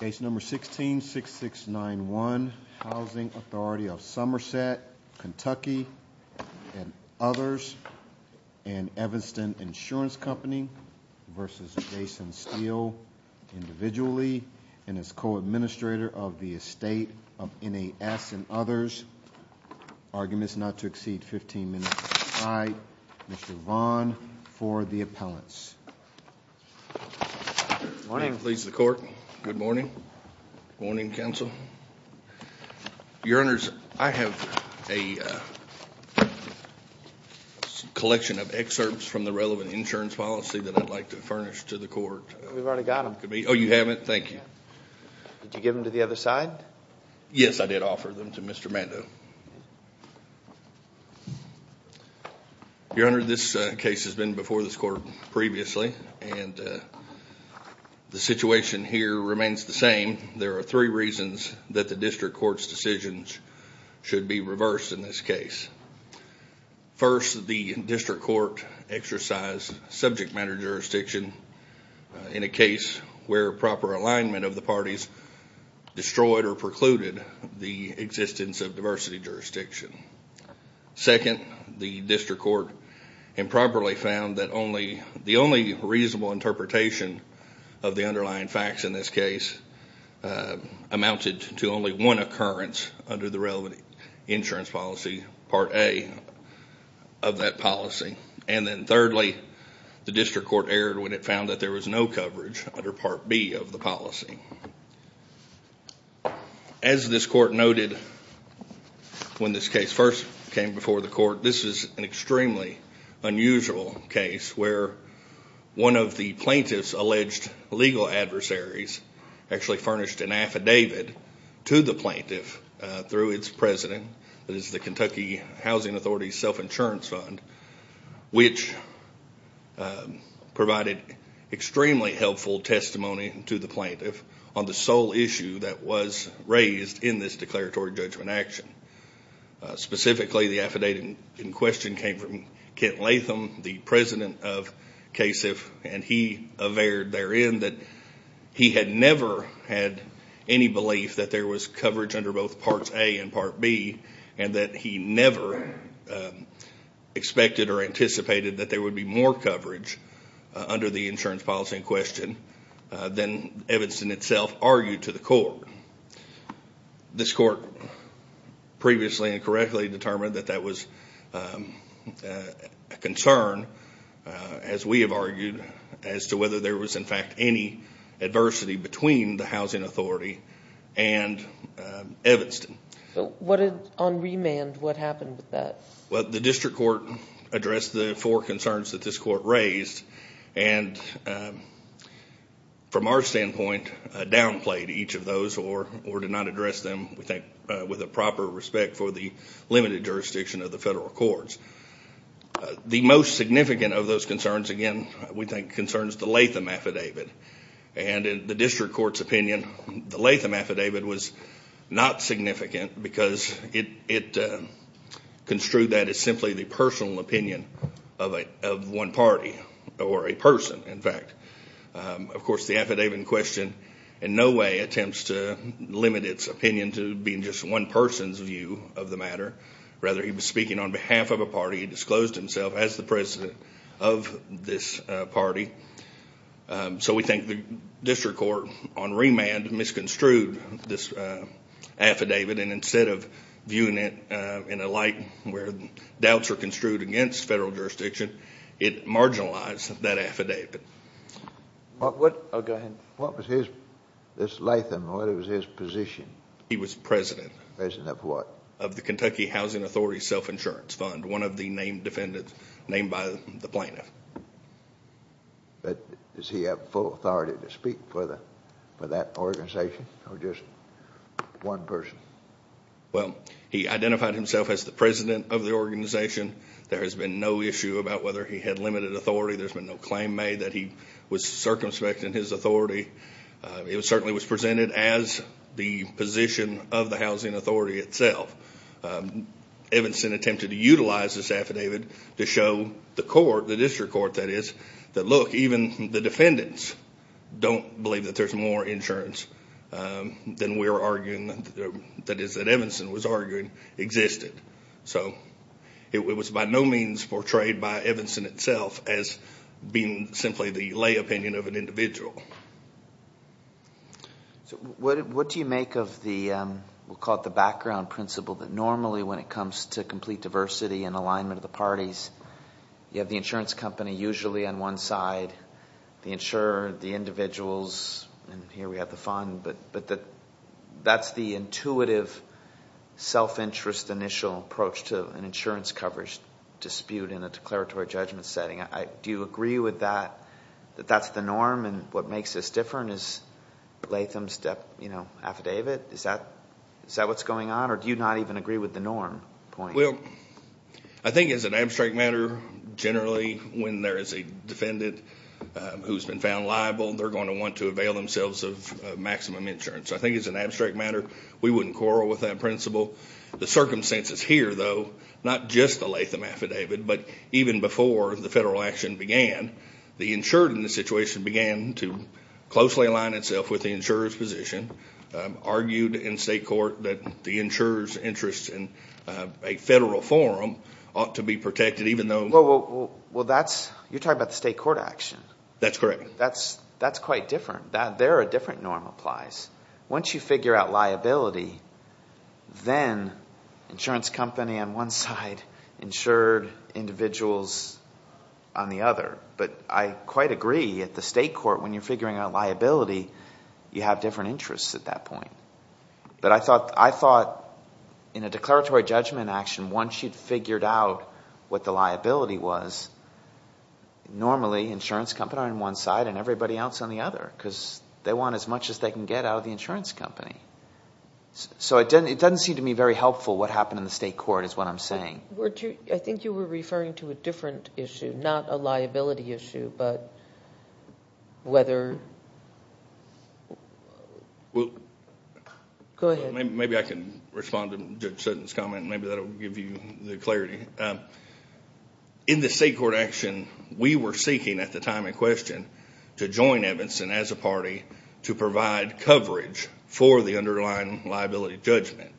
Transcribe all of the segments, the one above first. Case number 166691, Housing Authority of Somerset, Kentucky, and others, and Evanston Insurance Company versus Jason Steele, individually, and as co-administrator of the estate of NAS and others. Arguments not to exceed 15 minutes. I, Mr. Vaughn, for the appellants. Morning. Please the court. Good morning. Morning, counsel. Your Honors, I have a collection of excerpts from the relevant insurance policy that I'd like to furnish to the court. We've already got them. Oh, you haven't? Thank you. Did you give them to the other side? Yes, I did Your Honor, this case has been before this court previously, and the situation here remains the same. There are three reasons that the district court's decisions should be reversed in this case. First, the district court exercised subject matter jurisdiction in a case where proper alignment of the parties destroyed or precluded the existence of diversity jurisdiction. Second, the district court improperly found that only the only reasonable interpretation of the underlying facts in this case amounted to only one occurrence under the relevant insurance policy, Part A of that policy. And then thirdly, the district court erred when it found that there was no coverage under Part B of the policy. As this court noted when this case first came before the court, this is an extremely unusual case where one of the plaintiff's alleged legal adversaries actually furnished an affidavit to the plaintiff through its president. That is the Kentucky Housing Authority's self insurance fund, which provided extremely helpful testimony to the plaintiff on the sole issue that was raised in this declaratory judgment action. Specifically, the affidavit in question came from Kent Latham, the president of KASIF, and he averred therein that he had never had any belief that there was coverage under both that there would be more coverage under the insurance policy in question than Evanston itself argued to the court. This court previously and correctly determined that that was a concern, as we have argued, as to whether there was in fact any adversity between the housing authority and Evanston. On remand, what happened with that? The district court addressed the four concerns that this court raised and from our standpoint downplayed each of those or did not address them with a proper respect for the limited jurisdiction of the federal courts. The most significant of those concerns, again, we think concerns the Latham affidavit. In the district court's opinion, the Latham affidavit was not misconstrued. That is simply the personal opinion of one party or a person, in fact. Of course, the affidavit in question in no way attempts to limit its opinion to being just one person's view of the matter. Rather, he was speaking on behalf of a party. He disclosed himself as the president of this party. We think the district court on remand misconstrued this affidavit and instead of viewing it in a light where doubts are construed against federal jurisdiction, it marginalized that affidavit. What was his... this Latham, what was his position? He was president. President of what? Of the Kentucky Housing Authority Self-Insurance Fund, one of the named defendants named by the plaintiff. Does he have full authority to speak for that organization or just one person? Well, he identified himself as the president of the organization. There has been no issue about whether he had limited authority. There's been no claim made that he was circumspect in his authority. It certainly was presented as the position of the housing authority itself. Evanston attempted to utilize this affidavit to show the court, the district court that is, that look, even the defendants don't believe that there's more insurance than we're arguing, that is, that Evanston was arguing existed. It was by no means portrayed by Evanston itself as being simply the lay opinion of an individual. What do you make of the, we'll call it the background principle that normally when it comes to complete diversity and alignment of the parties, you have the and here we have the fund, but that's the intuitive self-interest initial approach to an insurance coverage dispute in a declaratory judgment setting. Do you agree with that, that that's the norm and what makes this different is Latham's affidavit? Is that what's going on or do you not even agree with the norm point? I think as an abstract matter, generally when there is a defendant who's been found liable, they're going to want to avail themselves of maximum insurance. I think it's an abstract matter. We wouldn't quarrel with that principle. The circumstances here though, not just the Latham affidavit, but even before the federal action began, the insured in the situation began to closely align itself with the insurer's position, argued in state court that the insurer's interest in a federal forum ought to be protected, even though... You're talking about the state court action. That's correct. That's quite different. There are different norm applies. Once you figure out liability, then insurance company on one side, insured individuals on the other, but I quite agree at the state court when you're figuring out liability, you have different interests at that point. I thought in a normally insurance company on one side and everybody else on the other because they want as much as they can get out of the insurance company. It doesn't seem to me very helpful what happened in the state court is what I'm saying. I think you were referring to a different issue, not a liability issue, but whether... Go ahead. Maybe I can respond to Judge Sutton's comment. Maybe that'll give you the clarity. In the state court action, we were seeking at the time in question to join Evanston as a party to provide coverage for the underlying liability judgment.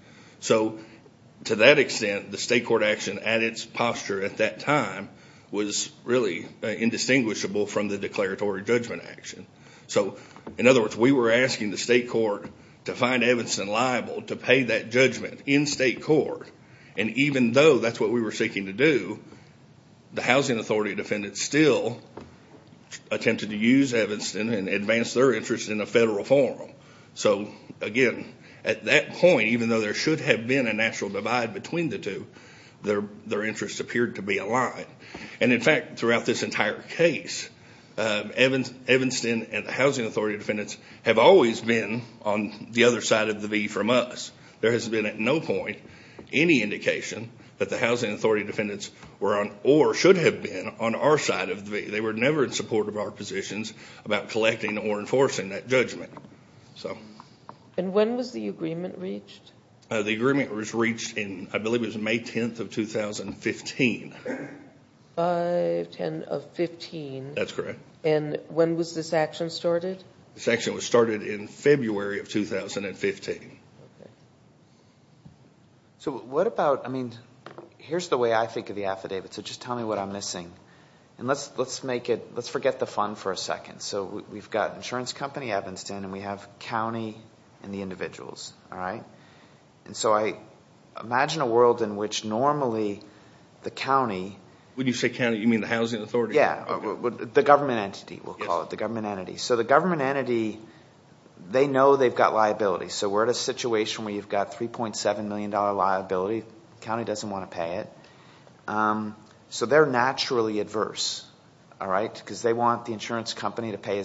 To that extent, the state court action at its posture at that time was really indistinguishable from the declaratory judgment action. In other words, we were asking the state court to find Evanston liable to pay that judgment in the way that we were seeking to do. The housing authority defendants still attempted to use Evanston and advance their interest in a federal forum. Again, at that point, even though there should have been a natural divide between the two, their interest appeared to be a lie. In fact, throughout this entire case, Evanston and the housing authority defendants have always been on the other side of the V from us. There has been at no point any indication that the housing authority defendants were on, or should have been, on our side of the V. They were never in support of our positions about collecting or enforcing that judgment. When was the agreement reached? The agreement was reached in, I believe it was May 10th of 2015. May 10th of 2015. That's correct. When was this action started? This action was started in February of 2015. Here's the way I think of the affidavit, so just tell me what I'm missing. Let's forget the fund for a second. We've got insurance company Evanston, and we have county and the individuals. I imagine a world in which normally the county... When you say county, you mean the housing authority? Yeah, the government entity, we'll call it, the government entity. The government entity, they know they've got liability, so we're at a situation where you've got $3.7 million liability. The county doesn't want to pay it. They're naturally adverse, because they want the insurance company to pay...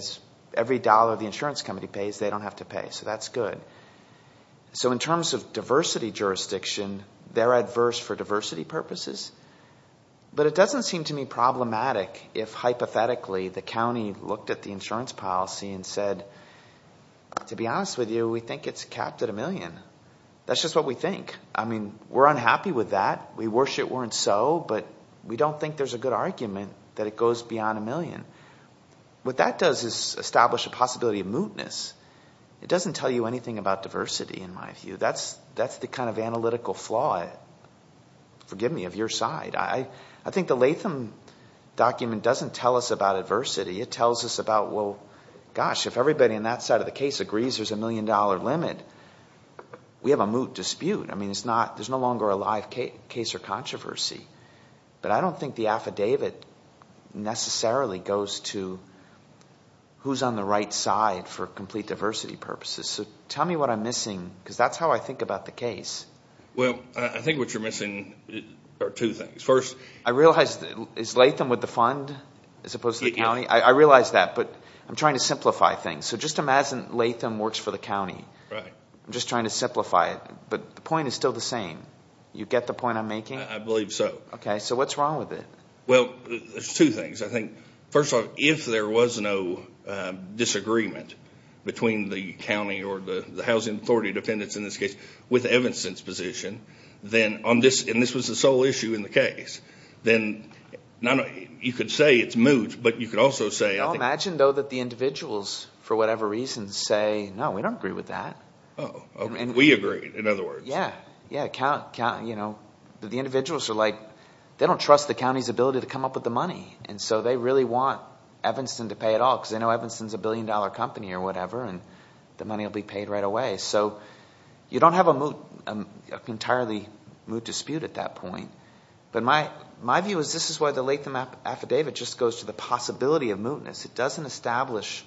Every dollar the insurance company pays, they don't have to pay, so that's good. In terms of diversity jurisdiction, they're adverse for diversity purposes, but it doesn't seem to me problematic if, hypothetically, the county looked at the insurance policy and said, to be honest with you, we think it's capped at a million. That's just what we think. We're unhappy with that. We wish it weren't so, but we don't think there's a good argument that it goes beyond a million. What that does is establish a possibility of mootness. It doesn't tell you anything about diversity, in my view. That's the kind of analytical flaw, forgive me, of your side. I think the Latham document doesn't tell us about adversity. It tells us about, gosh, if everybody on that side of the case agrees there's a million dollar limit, we have a moot dispute. There's no longer a live case or controversy, but I don't think the affidavit necessarily goes to who's on the right side for complete diversity purposes. Tell me what I'm missing, because that's how I think about the case. I think what you're missing are two things. First... I realize, is Latham with the fund, as opposed to the county? I realize that, but I'm trying to simplify things. Just imagine Latham works for the county. I'm just trying to simplify it, but the point is still the same. You get the point I'm making? I believe so. What's wrong with it? There's two things. First off, if there was no disagreement between the county or the housing authority defendants, in this case, with Evanston's position, and this was the sole issue in the case, then you could say it's moot, but you could also say... Imagine though that the individuals, for whatever reason, say, no, we don't agree with that. We agree, in other words. The individuals are like, they don't trust the county's ability to come up with the money. They really want Evanston to pay it all, because they know Evanston's a billion dollar company or whatever, and the money will be paid right away. You don't have an entirely moot dispute at that point, but my view is this is why the Latham affidavit just goes to the possibility of mootness. It doesn't establish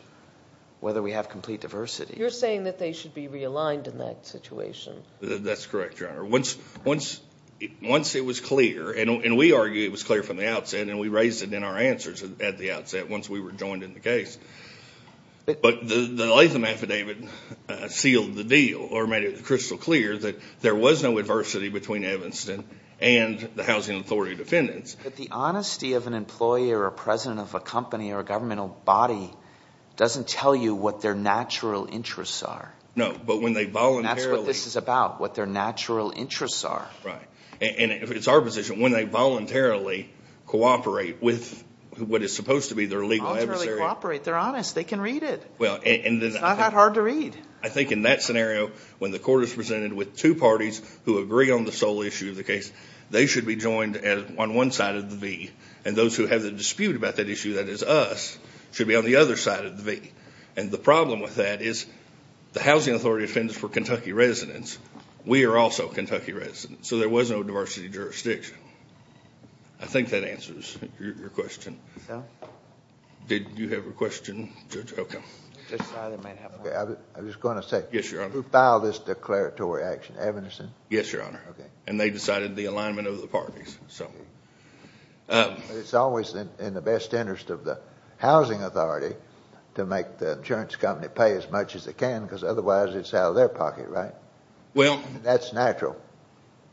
whether we have complete diversity. You're saying that they should be realigned in that situation. That's correct, Your Honor. Once it was clear, and we argue it was clear from the outset, and we raised it in our answers at the outset, once we were joined in the case, but the Latham affidavit sealed the deal, or made it crystal clear that there was no adversity between Evanston and the Housing Authority defendants... But the honesty of an employer, or president of a company, or a governmental body doesn't tell you what their natural interests are. No, but when they voluntarily... That's what this is about, what their natural interests are. Right, and it's our position, when they voluntarily cooperate with what is supposed to be their legal adversary... Voluntarily cooperate. They're honest. They can read it. It's not that hard to read. I think in that scenario, when the court is presented with two parties who agree on the sole issue of the case, they should be joined on one side of the V, and those who have the dispute about that issue, that is us, should be on the other side of the V. The problem with that is the Housing Authority defendants were Kentucky residents. We are also Kentucky residents, so there was no diversity of jurisdiction. I think that answers your question. So? Did you have a question, Judge Ocom? I was going to say, who filed this declaratory action, Evanescent? Yes, Your Honor. Okay. And they decided the alignment of the parties, so... But it's always in the best interest of the Housing Authority to make the insurance company pay as much as they can, because otherwise it's out of their pocket, right? Well... That's natural.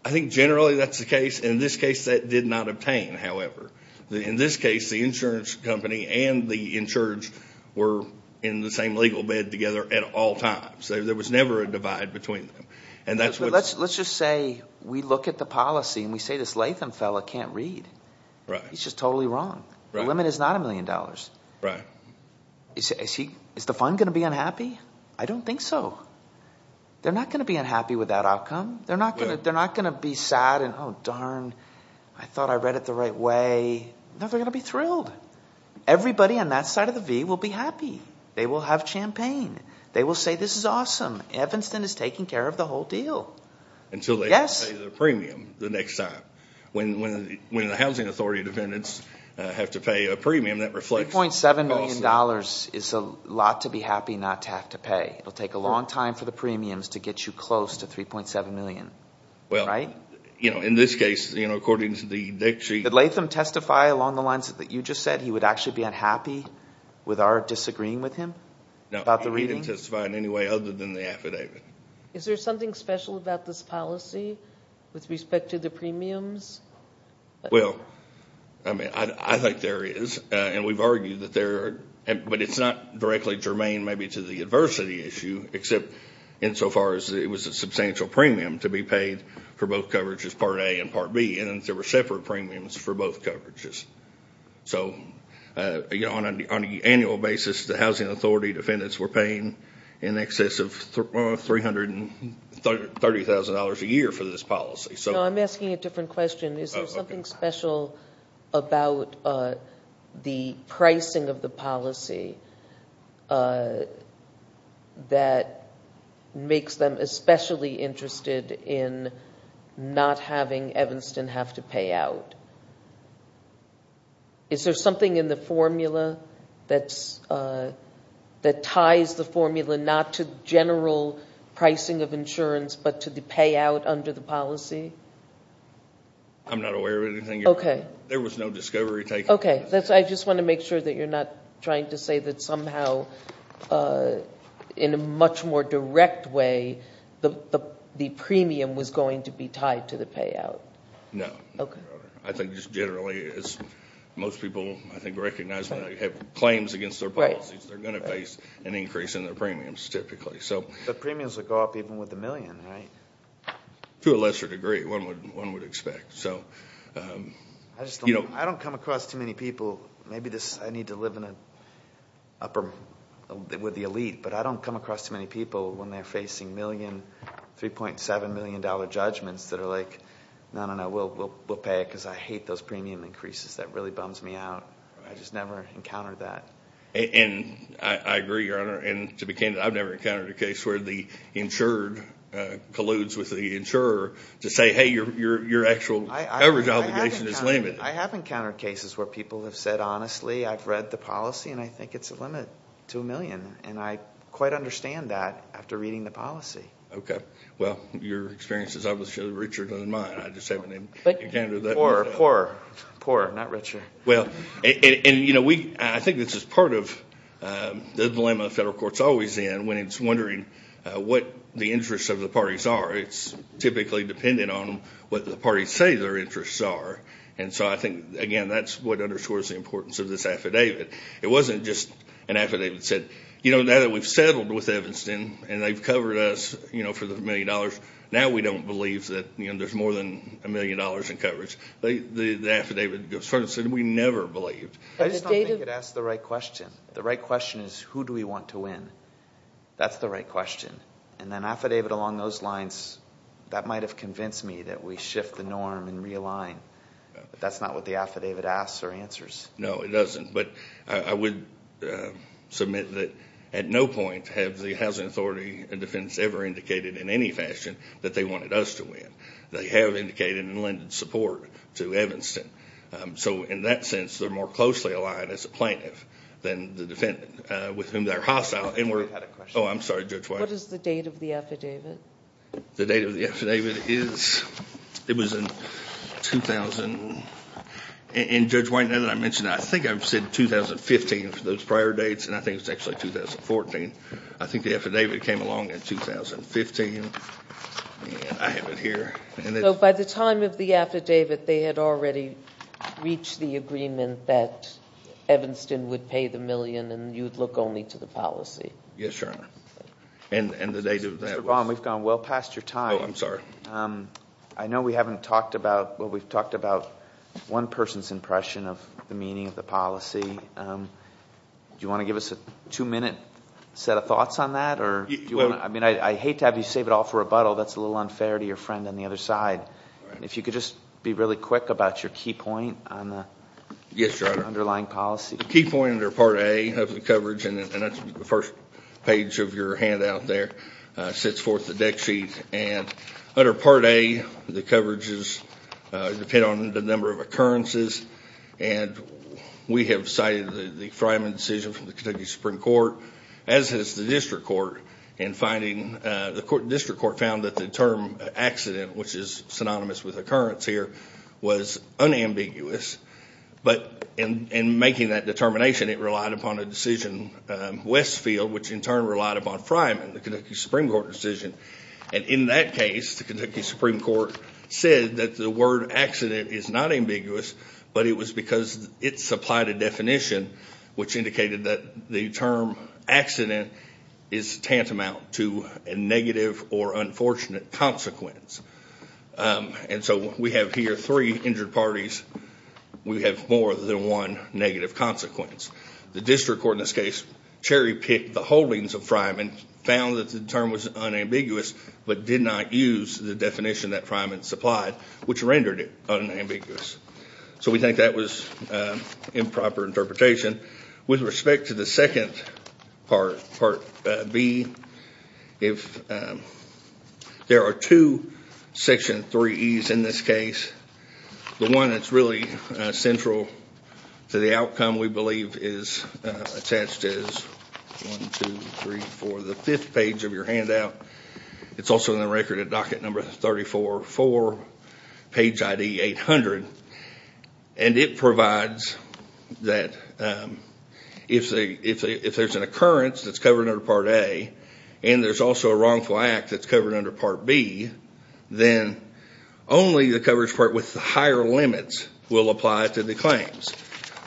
I think generally that's the case. In this case, that did not obtain, however. In this case, the insurance company and the insurance were in the same legal bed together at all times. There was never a divide between them, and that's what... Let's just say we look at the policy and we say this Latham fellow can't read. He's just totally wrong. The limit is not a million dollars. Is the fund going to be unhappy? I don't think so. They're not going to be unhappy with that outcome. They're not going to be sad and, oh, darn, I thought I read it the right way. No, they're going to be thrilled. Everybody on that side of the V will be happy. They will have champagne. They will say this is awesome. Evanston is taking care of the whole deal. Until they... Yes.... pay the premium the next time. When the Housing Authority defendants have to pay a premium, that reflects... $3.7 million is a lot to be happy not to have to pay. It'll take a long time for the premiums to get you close to $3.7 million, right? In this case, according to the deck sheet... Did Latham testify along the lines that you just said he would actually be unhappy with our disagreeing with him about the reading? No, he didn't testify in any way other than the affidavit. Is there something special about this policy with respect to the premiums? Well, I think there is. We've argued that there... but it's not directly germane maybe to the adversity issue except insofar as it was a substantial premium to be paid for both coverages, Part A and Part B. There were separate premiums for both coverages. On an annual basis, the Housing Authority defendants were paying in excess of $330,000 a year for this policy. No, I'm asking a different question. Is there something special about the pricing of the not having Evanston have to pay out? Is there something in the formula that ties the formula not to general pricing of insurance but to the payout under the policy? I'm not aware of anything. There was no discovery taken. Okay. I just want to make sure that you're not trying to say that somehow in a much more general way that it's going to be tied to the payout. No. I think just generally as most people I think recognize when they have claims against their policies, they're going to face an increase in their premiums typically. The premiums would go up even with the million, right? To a lesser degree, one would expect. I don't come across too many people... maybe I need to live with the elite, but I don't come across too many people when they're facing million, $3.7 million judgments that are like, no, no, no, we'll pay it because I hate those premium increases. That really bums me out. I just never encountered that. I agree, Your Honor. To be candid, I've never encountered a case where the insured colludes with the insurer to say, hey, your actual average obligation is limited. I have encountered cases where people have said, honestly, I've read the policy and I quite understand that after reading the policy. Okay. Well, your experience is obviously richer than mine. I just haven't encountered that. Poor, poor, poor, not richer. I think this is part of the dilemma the federal court is always in when it's wondering what the interests of the parties are. It's typically dependent on what the parties say their interests are. I think, again, that's what underscores the importance of this affidavit. It wasn't just an affidavit that said, now that we've settled with Evanston and they've covered us for the million dollars, now we don't believe that there's more than a million dollars in coverage. The affidavit sort of said, we never believed. I just don't think it asks the right question. The right question is, who do we want to win? That's the right question. An affidavit along those lines, that might have convinced me that we shift the norm and realign. But that's not what the affidavit asks or answers. No, it doesn't. But I would submit that at no point have the Housing Authority and Defendants ever indicated in any fashion that they wanted us to win. They have indicated and lended support to Evanston. So in that sense, they're more closely aligned as a plaintiff than the defendant with whom they're hostile. I'm sorry, Judge White. What is the date of the affidavit? The date of the affidavit is, it was in 2000. And Judge White, now that I mention that, I think I've said 2015 for those prior dates. And I think it was actually 2014. I think the affidavit came along in 2015. And I have it here. So by the time of the affidavit, they had already reached the agreement that Evanston would pay the million and you'd look only to the policy. Yes, Your Honor. And the date of that was? Mr. Baum, we've gone well past your time. Oh, I'm sorry. I know we haven't talked about, well, we've talked about one person's impression of the meaning of the policy. Do you want to give us a two-minute set of thoughts on that? I mean, I hate to have you save it all for rebuttal. That's a little unfair to your friend on the other side. If you could just be really quick about your key point on the underlying policy. The key point under Part A of the coverage, and that's the first page of your handout out there, sits forth the deck sheet. And under Part A, the coverages depend on the number of occurrences. And we have cited the Fryman decision from the Kentucky Supreme Court, as has the district court, in finding the district court found that the term accident, which is synonymous with occurrence here, was unambiguous. But in making that determination, it relied upon a decision, Westfield, which in turn relied upon Fryman, the Kentucky Supreme Court decision. And in that case, the Kentucky Supreme Court said that the word accident is not ambiguous, but it was because it supplied a definition which indicated that the term accident is tantamount to a negative or unfortunate consequence. And so we have here three injured parties. We have more than one negative consequence. The district court in this case cherry picked the holdings of Fryman, found that the term was unambiguous, but did not use the definition that Fryman supplied, which rendered it unambiguous. So we think that was improper interpretation. With respect to the second part, Part B, there are two Section 3Es in this case. The one that's really central to the outcome, we believe, is attached as 1, 2, 3, 4, the fifth page of your handout. It's also in the record at docket number 34, 4, page ID 800. And it provides that if there's an occurrence that's covered under Part A, and there's also a wrongful act that's covered under Part B, then only the coverage part with the higher limits will apply to the claims.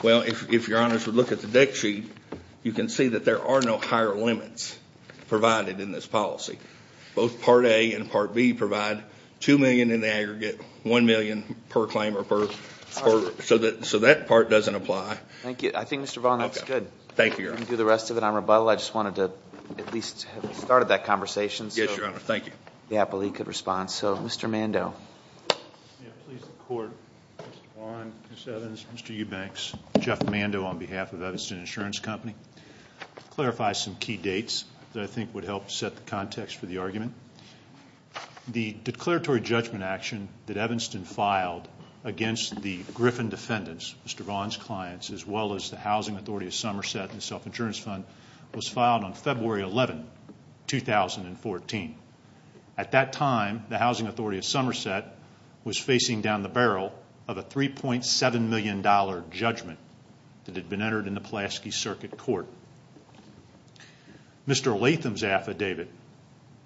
Well, if your honors would look at the deck sheet, you can see that there are no higher limits provided in this policy. Both Part A and Part B provide 2 million in the aggregate, 1 million per claim or per order. So that part doesn't apply. Thank you. I think, Mr. Vaughan, that's good. Thank you, your honor. We can do the rest of it on rebuttal. I just wanted to at least have started that conversation. Yes, your honor. Thank you. The appellee could respond. So, Mr. Mando. May it please the Court, Mr. Vaughan, Ms. Evans, Mr. Eubanks, Jeff Mando on behalf of Evanston Insurance Company. I'll clarify some key dates that I think would help set the context for the argument. The declaratory judgment action that Evanston filed against the Griffin defendants, Mr. Vaughan's clients, as well as the Housing Authority of Somerset and the self-insurance fund was filed on February 11, 2014. At that time, the Housing Authority of Somerset was facing down the barrel of a $3.7 million judgment that had been entered in the Pulaski Circuit Court. Mr. Latham's affidavit,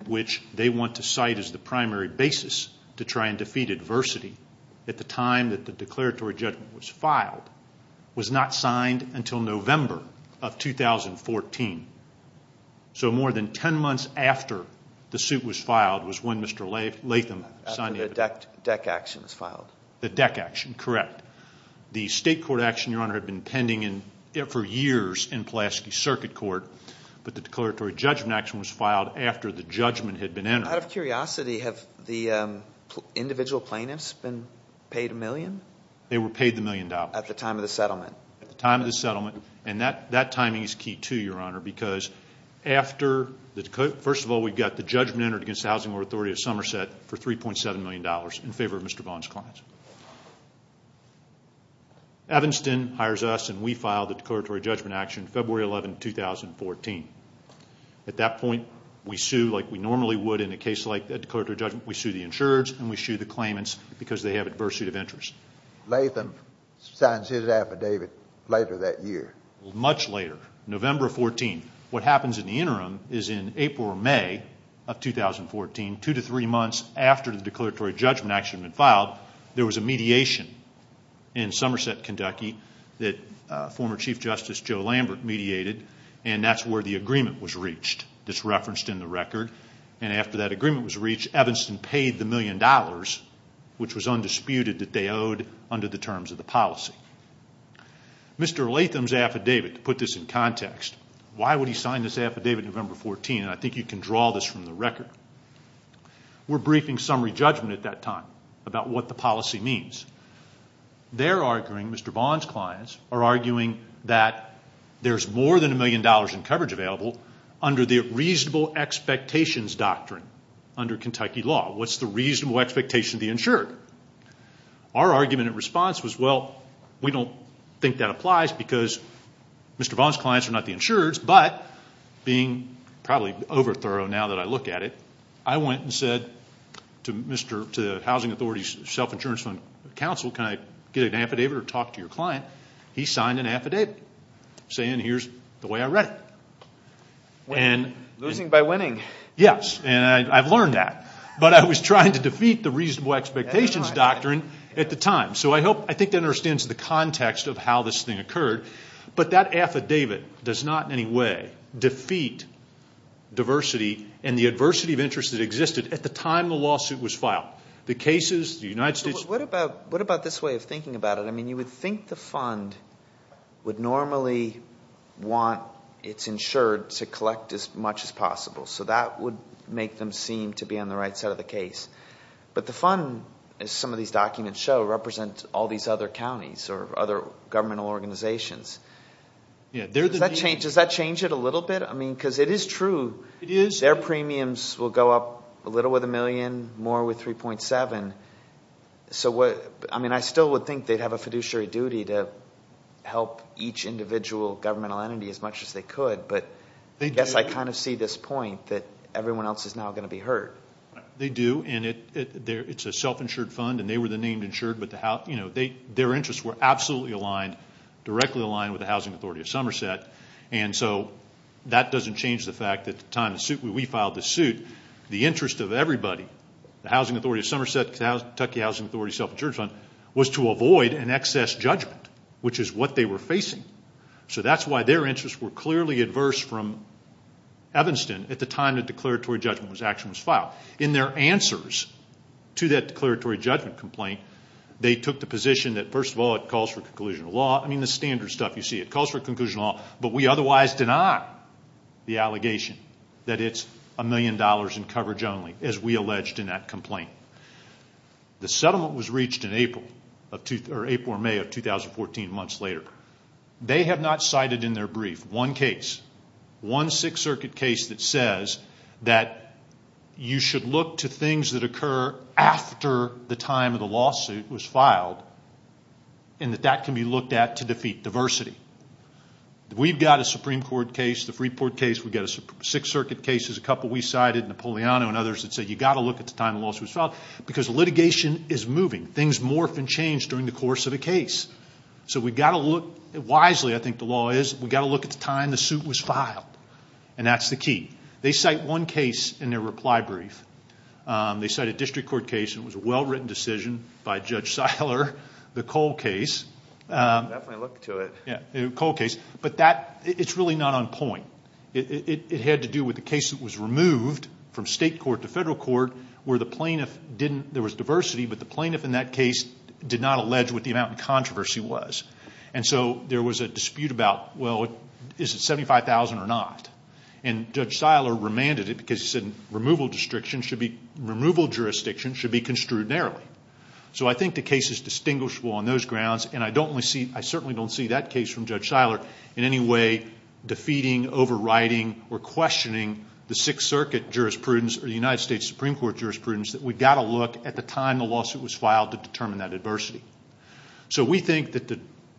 which they want to cite as the primary basis to try and defeat adversity at the time that the declaratory judgment was filed, was not signed until November of 2014. So more than 10 months after the suit was filed was when Mr. Latham signed the affidavit. After the DEC action was filed. The DEC action, correct. The state court action, your honor, had been pending for years in Pulaski Circuit Court, but the declaratory judgment action was filed after the judgment had been entered. Out of curiosity, have the individual plaintiffs been paid a million? They were paid the million dollars. At the time of the settlement. At the time of the settlement. And that timing is key too, your honor, because after the DEC, first of all, we've got the judgment entered against the Housing Authority of Somerset for $3.7 million in favor of Mr. Vaughn's claims. Evanston hires us and we file the declaratory judgment action February 11, 2014. At that point, we sue like we normally would in a case like a declaratory judgment. We sue the insurers and we sue the claimants because they have adversity of interest. Latham signs his affidavit later that year. Much later, November 14. What happens in the interim is in April or May of 2014, two to three months after the declaratory judgment action had been filed, there was a mediation in Somerset, Kentucky, that former Chief Justice Joe Lambert mediated, and that's where the agreement was reached. It's referenced in the record. And after that agreement was reached, Evanston paid the million dollars, which was undisputed, that they owed under the terms of the policy. Mr. Latham's affidavit, to put this in context, why would he sign this affidavit November 14? And I think you can draw this from the record. We're briefing summary judgment at that time about what the policy means. They're arguing, Mr. Vaughn's clients, are arguing that there's more than a million dollars in coverage available under the reasonable expectations doctrine under Kentucky law. What's the reasonable expectation of the insured? Our argument in response was, well, we don't think that applies because Mr. Vaughn's clients are not the insureds, but being probably over thorough now that I look at it, I went and said to the Housing Authority's self-insurance fund counsel, can I get an affidavit or talk to your client? He signed an affidavit saying here's the way I read it. Losing by winning. Yes, and I've learned that. But I was trying to defeat the reasonable expectations doctrine at the time. So I think that understands the context of how this thing occurred. But that affidavit does not in any way defeat diversity and the adversity of interest that existed at the time the lawsuit was filed. The cases, the United States. What about this way of thinking about it? I mean, you would think the fund would normally want its insured to collect as much as possible. So that would make them seem to be on the right side of the case. But the fund, as some of these documents show, represents all these other counties or other governmental organizations. Does that change it a little bit? I mean, because it is true. It is. Their premiums will go up a little with a million, more with 3.7. I mean, I still would think they'd have a fiduciary duty to help each individual governmental entity as much as they could. But I guess I kind of see this point that everyone else is now going to be hurt. They do, and it's a self-insured fund, and they were the named insured. Their interests were absolutely aligned, directly aligned with the Housing Authority of Somerset. And so that doesn't change the fact that at the time we filed the suit, the interest of everybody, the Housing Authority of Somerset, the Kentucky Housing Authority Self-Insured Fund, was to avoid an excess judgment, which is what they were facing. So that's why their interests were clearly adverse from Evanston at the time the declaratory judgment action was filed. In their answers to that declaratory judgment complaint, they took the position that, first of all, it calls for conclusion of law. I mean, the standard stuff you see, it calls for conclusion of law, but we otherwise deny the allegation that it's a million dollars in coverage only, as we alleged in that complaint. The settlement was reached in April or May of 2014, months later. They have not cited in their brief one case, one Sixth Circuit case that says that you should look to things that occur after the time of the lawsuit was filed, and that that can be looked at to defeat diversity. We've got a Supreme Court case, the Freeport case. We've got Sixth Circuit cases, a couple we cited, Napoleano and others that said you've got to look at the time the lawsuit was filed, because litigation is moving. Things morph and change during the course of a case. So we've got to look, wisely I think the law is, we've got to look at the time the suit was filed, and that's the key. They cite one case in their reply brief. They cite a district court case, and it was a well-written decision by Judge Seiler, the Cole case. Definitely look to it. Yeah, the Cole case. But that, it's really not on point. It had to do with the case that was removed from state court to federal court where the plaintiff didn't, there was diversity, but the plaintiff in that case did not allege what the amount of controversy was. And so there was a dispute about, well, is it $75,000 or not? And Judge Seiler remanded it because he said removal jurisdictions should be construed narrowly. So I think the case is distinguishable on those grounds, and I don't see, I certainly don't see that case from Judge Seiler in any way defeating, overriding, or questioning the Sixth Circuit jurisprudence or the United States Supreme Court jurisprudence that we've got to look at the time the lawsuit was filed to determine that adversity. So we think that the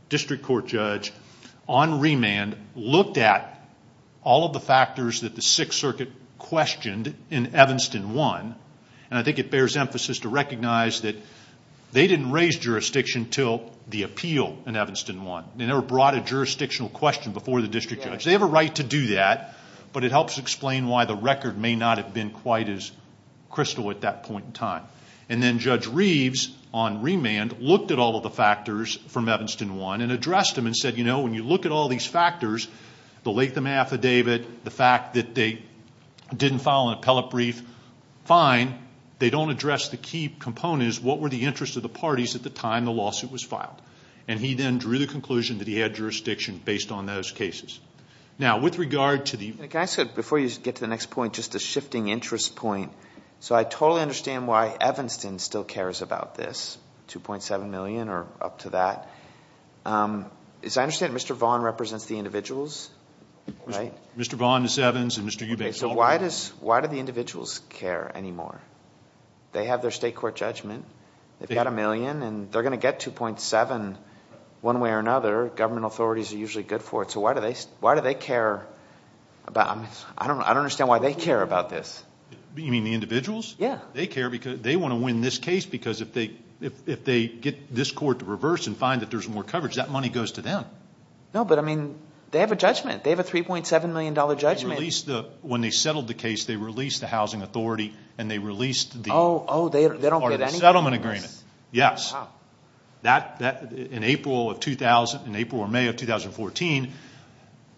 district court judge, on remand, looked at all of the factors that the Sixth Circuit questioned in Evanston 1, and I think it bears emphasis to recognize that they didn't raise jurisdiction until the appeal in Evanston 1. They never brought a jurisdictional question before the district judge. They have a right to do that, but it helps explain why the record may not have been quite as crystal at that point in time. And then Judge Reeves, on remand, looked at all of the factors from Evanston 1 and addressed them and said, you know, when you look at all these factors, the Latham Affidavit, the fact that they didn't file an appellate brief, fine. They don't address the key components. What were the interests of the parties at the time the lawsuit was filed? And he then drew the conclusion that he had jurisdiction based on those cases. Now, with regard to the... Can I say, before you get to the next point, just a shifting interest point? So I totally understand why Evanston still cares about this, $2.7 million or up to that. As I understand it, Mr. Vaughan represents the individuals, right? Mr. Vaughan, Ms. Evans, and Mr. Eubanks. So why do the individuals care anymore? They have their state court judgment. They've got a million, and they're going to get $2.7 one way or another. Government authorities are usually good for it. So why do they care? I don't understand why they care about this. You mean the individuals? Yeah. They care because they want to win this case because if they get this court to reverse and find that there's more coverage, that money goes to them. No, but, I mean, they have a judgment. They have a $3.7 million judgment. When they settled the case, they released the housing authority, and they released the settlement agreement. Yes. In April or May of 2014,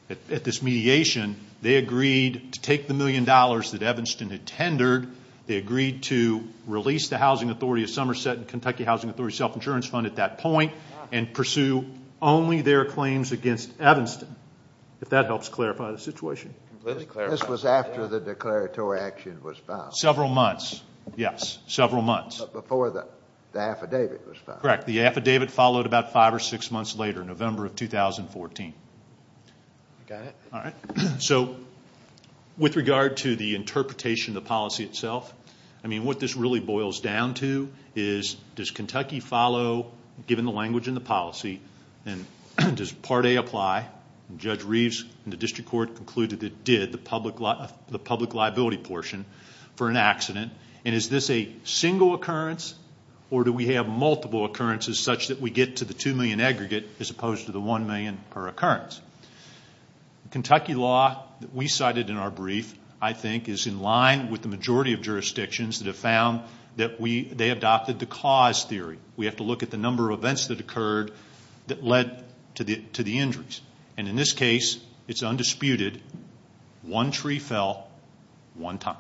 at this mediation, they agreed to take the million dollars that Evanston had tendered. They agreed to release the housing authority of Somerset and Kentucky Housing Authority self-insurance fund at that point and pursue only their claims against Evanston, if that helps clarify the situation. This was after the declaratory action was filed. Several months. Yes, several months. But before the affidavit was filed. Correct. The affidavit followed about five or six months later, November of 2014. Got it. All right. So with regard to the interpretation of the policy itself, I mean what this really boils down to is does Kentucky follow, given the language and the policy, and does Part A apply? And Judge Reeves in the district court concluded it did, the public liability portion for an accident. And is this a single occurrence, or do we have multiple occurrences such that we get to the $2 million aggregate as opposed to the $1 million per occurrence? The Kentucky law that we cited in our brief, I think, is in line with the majority of jurisdictions that have found that they adopted the cause theory. We have to look at the number of events that occurred that led to the injuries. And in this case, it's undisputed, one tree fell one time.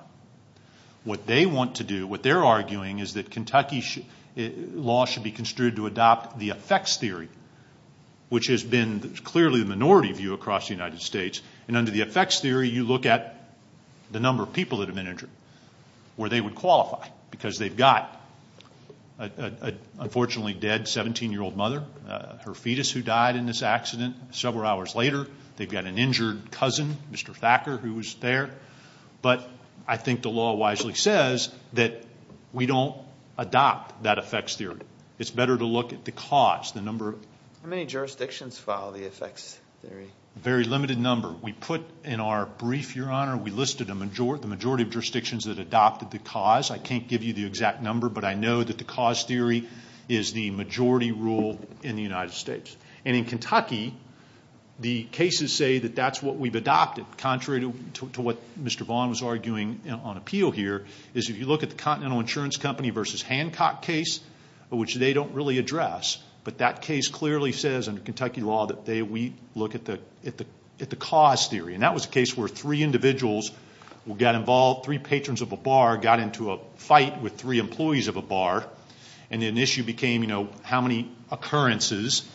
What they want to do, what they're arguing, is that Kentucky law should be construed to adopt the effects theory, which has been clearly the minority view across the United States. And under the effects theory, you look at the number of people that have been injured, where they would qualify because they've got an unfortunately dead 17-year-old mother, her fetus who died in this accident several hours later. They've got an injured cousin, Mr. Thacker, who was there. But I think the law wisely says that we don't adopt that effects theory. It's better to look at the cause, the number of. How many jurisdictions follow the effects theory? A very limited number. We put in our brief, Your Honor, we listed the majority of jurisdictions that adopted the cause. I can't give you the exact number, but I know that the cause theory is the majority rule in the United States. And in Kentucky, the cases say that that's what we've adopted, contrary to what Mr. Vaughn was arguing on appeal here, is if you look at the Continental Insurance Company v. Hancock case, which they don't really address, but that case clearly says under Kentucky law that we look at the cause theory. And that was a case where three individuals got involved, three patrons of a bar, got into a fight with three employees of a bar, and an issue became how many occurrences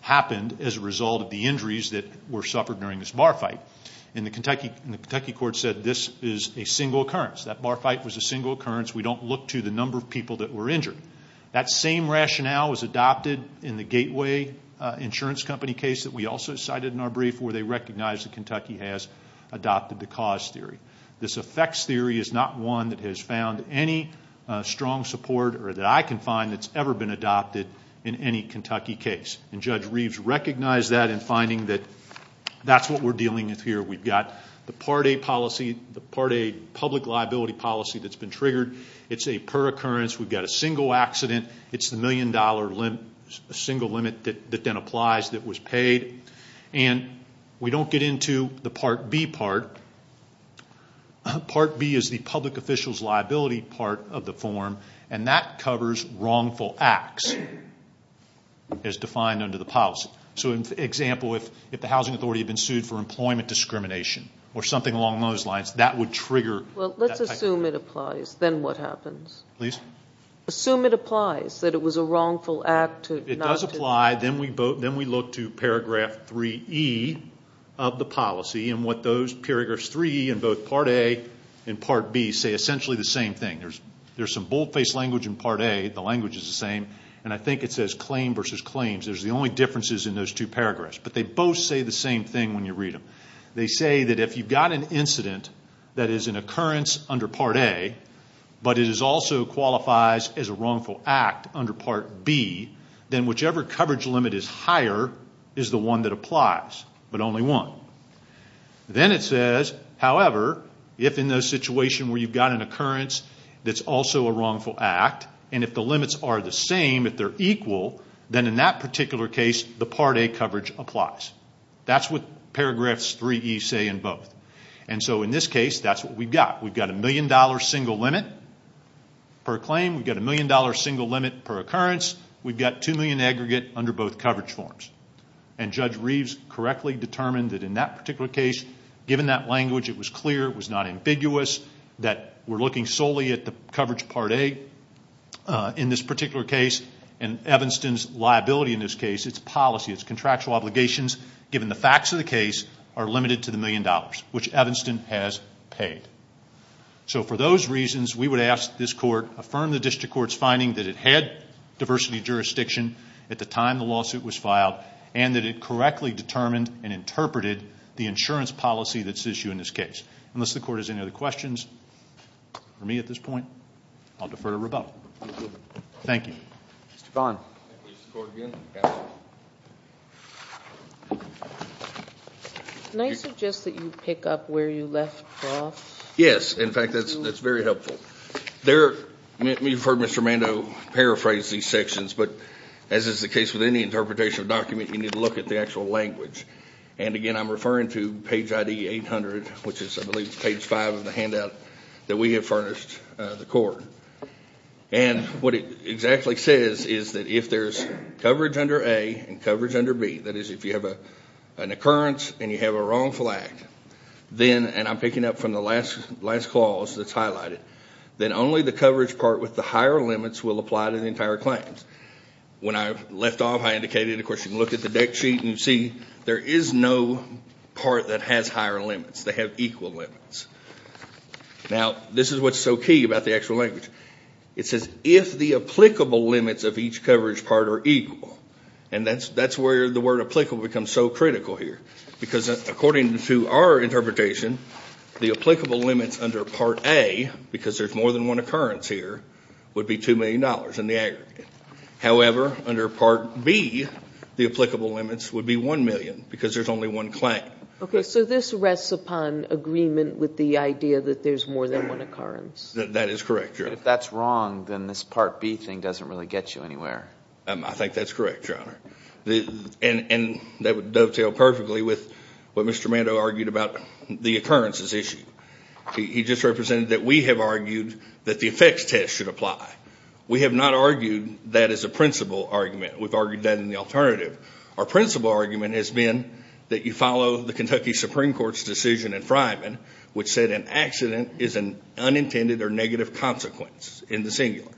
happened as a result of the injuries that were suffered during this bar fight. And the Kentucky court said this is a single occurrence. That bar fight was a single occurrence. We don't look to the number of people that were injured. That same rationale was adopted in the Gateway Insurance Company case that we also cited in our brief, where they recognized that Kentucky has adopted the cause theory. This effects theory is not one that has found any strong support, or that I can find that's ever been adopted in any Kentucky case. And Judge Reeves recognized that in finding that that's what we're dealing with here. We've got the Part A policy, the Part A public liability policy that's been triggered. It's a per occurrence. We've got a single accident. It's the million-dollar single limit that then applies that was paid. And we don't get into the Part B part. Part B is the public official's liability part of the form, and that covers wrongful acts as defined under the policy. So, for example, if the housing authority had been sued for employment discrimination or something along those lines, that would trigger that type of action. Well, let's assume it applies. Then what happens? Please. Assume it applies, that it was a wrongful act. It does apply. Then we look to Paragraph 3E of the policy and what those paragraphs 3E in both Part A and Part B say essentially the same thing. There's some bold-faced language in Part A. The language is the same. And I think it says claim versus claims. There's the only differences in those two paragraphs. But they both say the same thing when you read them. They say that if you've got an incident that is an occurrence under Part A, but it also qualifies as a wrongful act under Part B, then whichever coverage limit is higher is the one that applies, but only one. Then it says, however, if in the situation where you've got an occurrence that's also a wrongful act, and if the limits are the same, if they're equal, then in that particular case, the Part A coverage applies. That's what Paragraphs 3E say in both. And so in this case, that's what we've got. We've got a million-dollar single limit per claim. We've got a million-dollar single limit per occurrence. We've got two million aggregate under both coverage forms. And Judge Reeves correctly determined that in that particular case, given that language, it was clear, it was not ambiguous, that we're looking solely at the coverage Part A in this particular case. And Evanston's liability in this case, it's policy. It's contractual obligations, given the facts of the case, are limited to the million dollars, which Evanston has paid. So for those reasons, we would ask this Court, affirm the District Court's finding that it had diversity of jurisdiction at the time the lawsuit was filed and that it correctly determined and interpreted the insurance policy that's at issue in this case. Unless the Court has any other questions for me at this point, I'll defer to Rebecca. Thank you. Thank you. Mr. Vaughn. Can I suggest that you pick up where you left off? Yes. In fact, that's very helpful. You've heard Mr. Mando paraphrase these sections, but as is the case with any interpretation of a document, you need to look at the actual language. And again, I'm referring to page ID 800, which is, I believe, page 5 of the handout that we have furnished the Court. And what it exactly says is that if there's coverage under A and coverage under B, that is, if you have an occurrence and you have a wrong flag, then, and I'm picking up from the last clause that's highlighted, then only the coverage part with the higher limits will apply to the entire claims. When I left off, I indicated, of course, you can look at the deck sheet and see there is no part that has higher limits. They have equal limits. Now, this is what's so key about the actual language. It says, if the applicable limits of each coverage part are equal, and that's where the word applicable becomes so critical here, because according to our interpretation, the applicable limits under Part A, because there's more than one occurrence here, would be $2 million in the aggregate. However, under Part B, the applicable limits would be $1 million because there's only one claim. Okay, so this rests upon agreement with the idea that there's more than one occurrence. That is correct, Your Honor. If that's wrong, then this Part B thing doesn't really get you anywhere. I think that's correct, Your Honor. And that would dovetail perfectly with what Mr. Mando argued about the occurrences issue. He just represented that we have argued that the effects test should apply. We have not argued that as a principal argument. We've argued that in the alternative. Our principal argument has been that you follow the Kentucky Supreme Court's decision in Fryman, which said an accident is an unintended or negative consequence in the singular.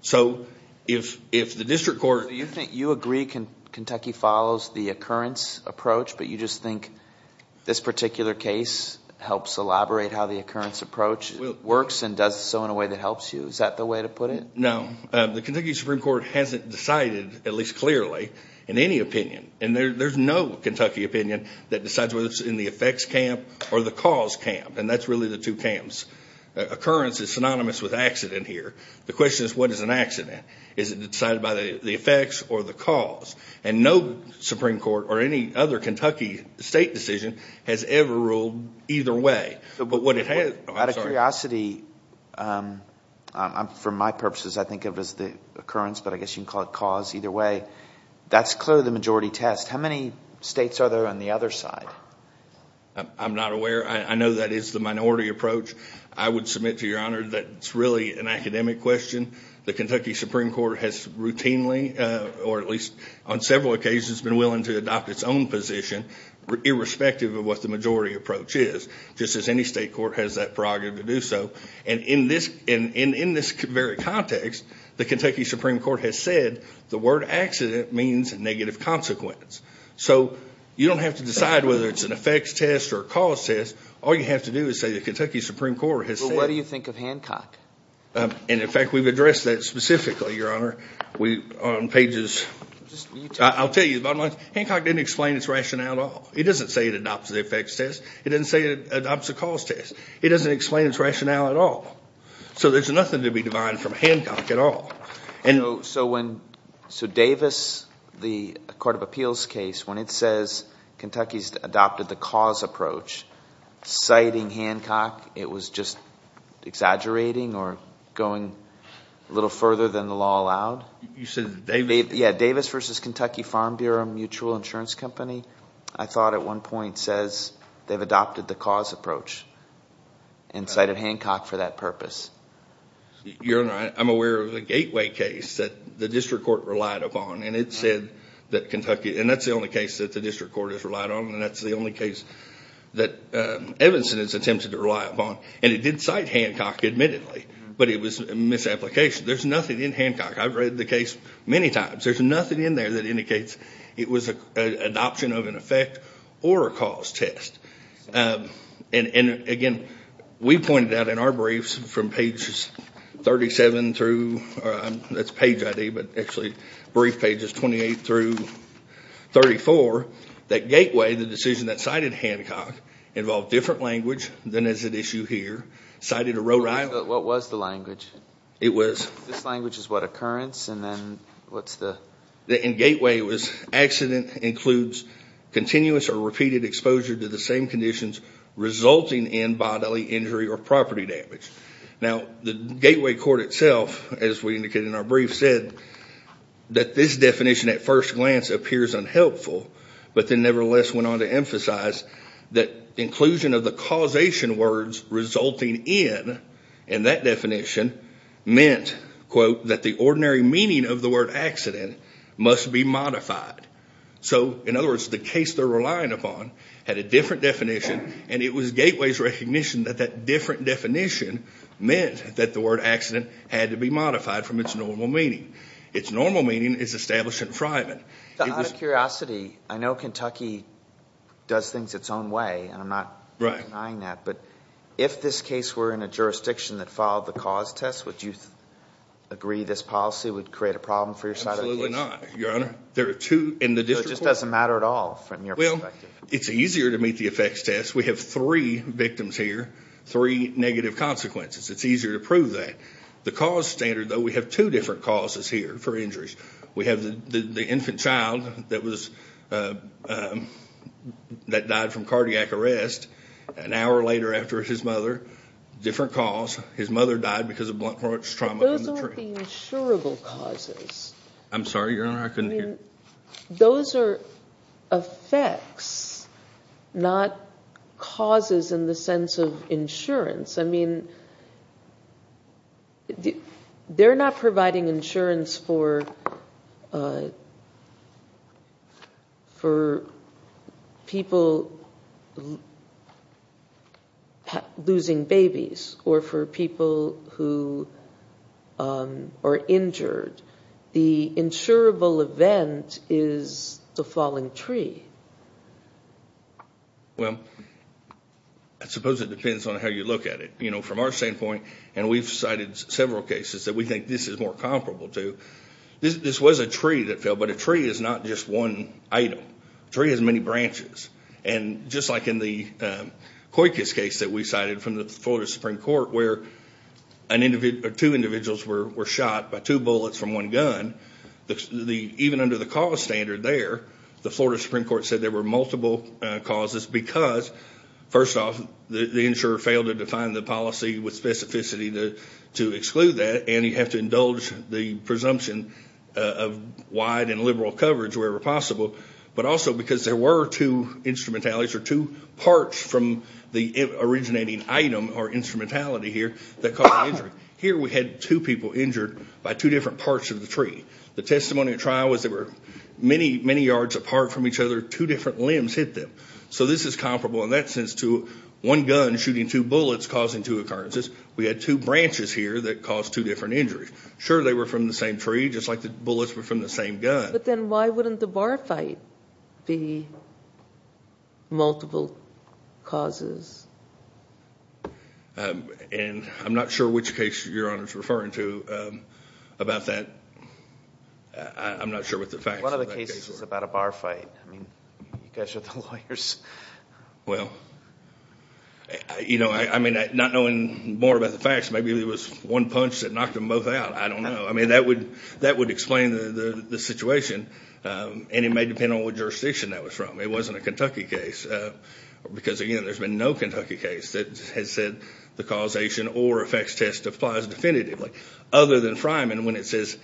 So if the district court— You agree Kentucky follows the occurrence approach, but you just think this particular case helps elaborate how the occurrence approach works and does so in a way that helps you. Is that the way to put it? No. The Kentucky Supreme Court hasn't decided, at least clearly, in any opinion, and there's no Kentucky opinion, that decides whether it's in the effects camp or the cause camp. And that's really the two camps. Occurrence is synonymous with accident here. The question is, what is an accident? Is it decided by the effects or the cause? And no Supreme Court or any other Kentucky state decision has ever ruled either way. But what it has— Out of curiosity, for my purposes, I think of it as the occurrence, but I guess you can call it cause either way. That's clearly the majority test. How many states are there on the other side? I'm not aware. I know that is the minority approach. I would submit to Your Honor that it's really an academic question. The Kentucky Supreme Court has routinely, or at least on several occasions, been willing to adopt its own position irrespective of what the majority approach is, just as any state court has that prerogative to do so. And in this very context, the Kentucky Supreme Court has said the word accident means negative consequence. So you don't have to decide whether it's an effects test or a cause test. All you have to do is say the Kentucky Supreme Court has said— But what do you think of Hancock? And, in fact, we've addressed that specifically, Your Honor, on pages— I'll tell you the bottom line. Hancock didn't explain its rationale at all. He doesn't say it adopts the effects test. He doesn't say it adopts the cause test. He doesn't explain its rationale at all. So there's nothing to be divided from Hancock at all. So Davis, the court of appeals case, when it says Kentucky's adopted the cause approach, citing Hancock, it was just exaggerating or going a little further than the law allowed? You said Davis? Yeah, Davis v. Kentucky Farm Bureau Mutual Insurance Company, I thought at one point, when it says they've adopted the cause approach and cited Hancock for that purpose. Your Honor, I'm aware of the Gateway case that the district court relied upon, and it said that Kentucky—and that's the only case that the district court has relied on, and that's the only case that Evanston has attempted to rely upon. And it did cite Hancock, admittedly, but it was a misapplication. There's nothing in Hancock. I've read the case many times. There's nothing in there that indicates it was an adoption of an effect or a cause test. And again, we pointed out in our briefs from pages 37 through—that's page ID, but actually brief pages 28 through 34 that Gateway, the decision that cited Hancock, involved different language than is at issue here. Cited a road rival— What was the language? It was— This language is what, occurrence? And then what's the— In Gateway, it was accident includes continuous or repeated exposure to the same conditions resulting in bodily injury or property damage. Now, the Gateway court itself, as we indicated in our brief, said that this definition at first glance appears unhelpful, but then nevertheless went on to emphasize that inclusion of the causation words resulting in, in that definition, meant, quote, that the ordinary meaning of the word accident must be modified. So, in other words, the case they're relying upon had a different definition, and it was Gateway's recognition that that different definition meant that the word accident had to be modified from its normal meaning. Its normal meaning is established in private. Out of curiosity, I know Kentucky does things its own way, and I'm not denying that, but if this case were in a jurisdiction that filed the cause test, would you agree this policy would create a problem for your side of the case? Absolutely not, Your Honor. There are two in the district court— So it just doesn't matter at all from your perspective? Well, it's easier to meet the effects test. We have three victims here, three negative consequences. It's easier to prove that. The cause standard, though, we have two different causes here for injuries. We have the infant child that died from cardiac arrest an hour later after his mother. Different cause. His mother died because of blunt force trauma in the tree. Those aren't the insurable causes. I'm sorry, Your Honor, I couldn't hear. I mean, they're not providing insurance for people losing babies or for people who are injured. The insurable event is the falling tree. Well, I suppose it depends on how you look at it. You know, from our standpoint, and we've cited several cases that we think this is more comparable to, this was a tree that fell, but a tree is not just one item. A tree has many branches. And just like in the Coykus case that we cited from the Florida Supreme Court where two individuals were shot by two bullets from one gun, even under the cause standard there, the Florida Supreme Court said there were multiple causes because, first off, the insurer failed to define the policy with specificity to exclude that, and you have to indulge the presumption of wide and liberal coverage wherever possible, but also because there were two instrumentalities or two parts from the originating item or instrumentality here that caused the injury. Here we had two people injured by two different parts of the tree. The testimony at trial was they were many, many yards apart from each other. Two different limbs hit them. So this is comparable in that sense to one gun shooting two bullets causing two occurrences. We had two branches here that caused two different injuries. Sure, they were from the same tree, just like the bullets were from the same gun. But then why wouldn't the bar fight be multiple causes? And I'm not sure which case Your Honor is referring to about that. I'm not sure what the facts of that case were. One of the cases was about a bar fight. I mean, you guys are the lawyers. Well, you know, I mean, not knowing more about the facts, maybe there was one punch that knocked them both out. I don't know. I mean, that would explain the situation, and it may depend on what jurisdiction that was from. It wasn't a Kentucky case. Because, again, there's been no Kentucky case that has said the causation or effects test applies definitively, other than Fryman when it says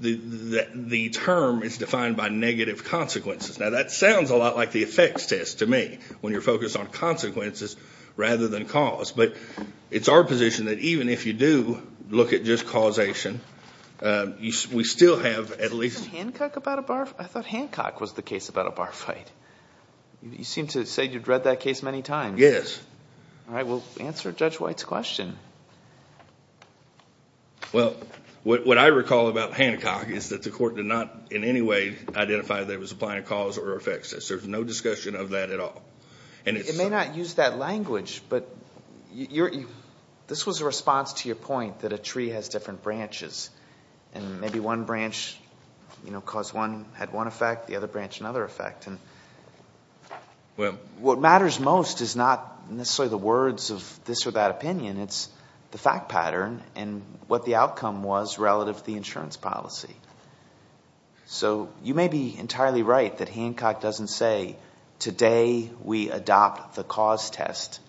the term is defined by negative consequences. Now, that sounds a lot like the effects test to me, when you're focused on consequences rather than cause. But it's our position that even if you do look at just causation, we still have at least I thought Hancock was the case about a bar fight. You seem to say you've read that case many times. Yes. All right. Well, answer Judge White's question. Well, what I recall about Hancock is that the court did not in any way identify that it was applying a cause or effects test. There's no discussion of that at all. It may not use that language, but this was a response to your point that a tree has different branches, and maybe one branch had one effect, the other branch another effect. And what matters most is not necessarily the words of this or that opinion. It's the fact pattern and what the outcome was relative to the insurance policy. So you may be entirely right that Hancock doesn't say, today we adopt the cause test.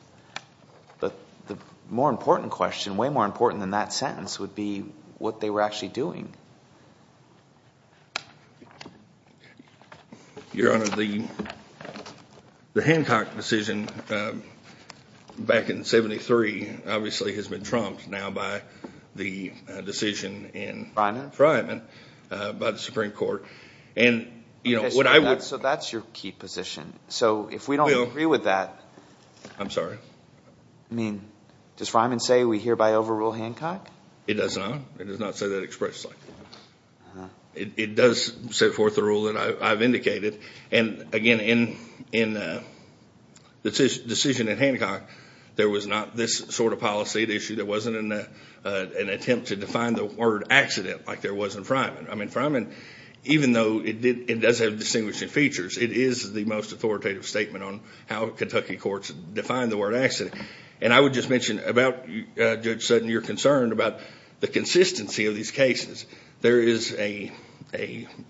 But the more important question, way more important than that sentence, would be what they were actually doing. Your Honor, the Hancock decision back in 1973 obviously has been trumped now by the decision in Freiman by the Supreme Court. So that's your key position. So if we don't agree with that. I'm sorry. I mean, does Freiman say we hereby overrule Hancock? It does not. It does not say that expressly. It does set forth the rule that I've indicated. And again, in the decision in Hancock, there was not this sort of policy at issue. There wasn't an attempt to define the word accident like there was in Freiman. I mean, Freiman, even though it does have distinguishing features, it is the most authoritative statement on how Kentucky courts define the word accident. And I would just mention about Judge Sutton, you're concerned about the consistency of these cases. There is a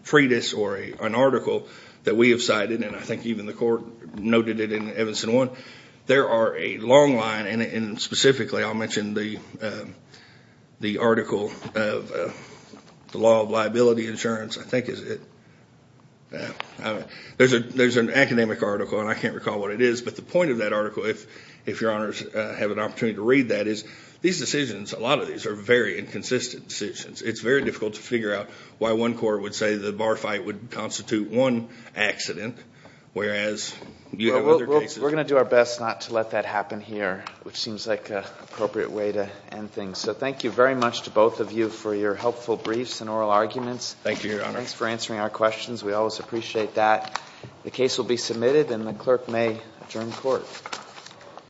treatise or an article that we have cited, and I think even the court noted it in Evanston 1. There are a long line, and specifically I'll mention the article of the law of liability insurance, I think is it. There's an academic article, and I can't recall what it is. But the point of that article, if your honors have an opportunity to read that, is these decisions, a lot of these are very inconsistent decisions. It's very difficult to figure out why one court would say the bar fight would constitute one accident, whereas you have other cases. We're going to do our best not to let that happen here, which seems like an appropriate way to end things. So thank you very much to both of you for your helpful briefs and oral arguments. Thank you, your honor. Thanks for answering our questions. We always appreciate that. The case will be submitted, and the clerk may adjourn court.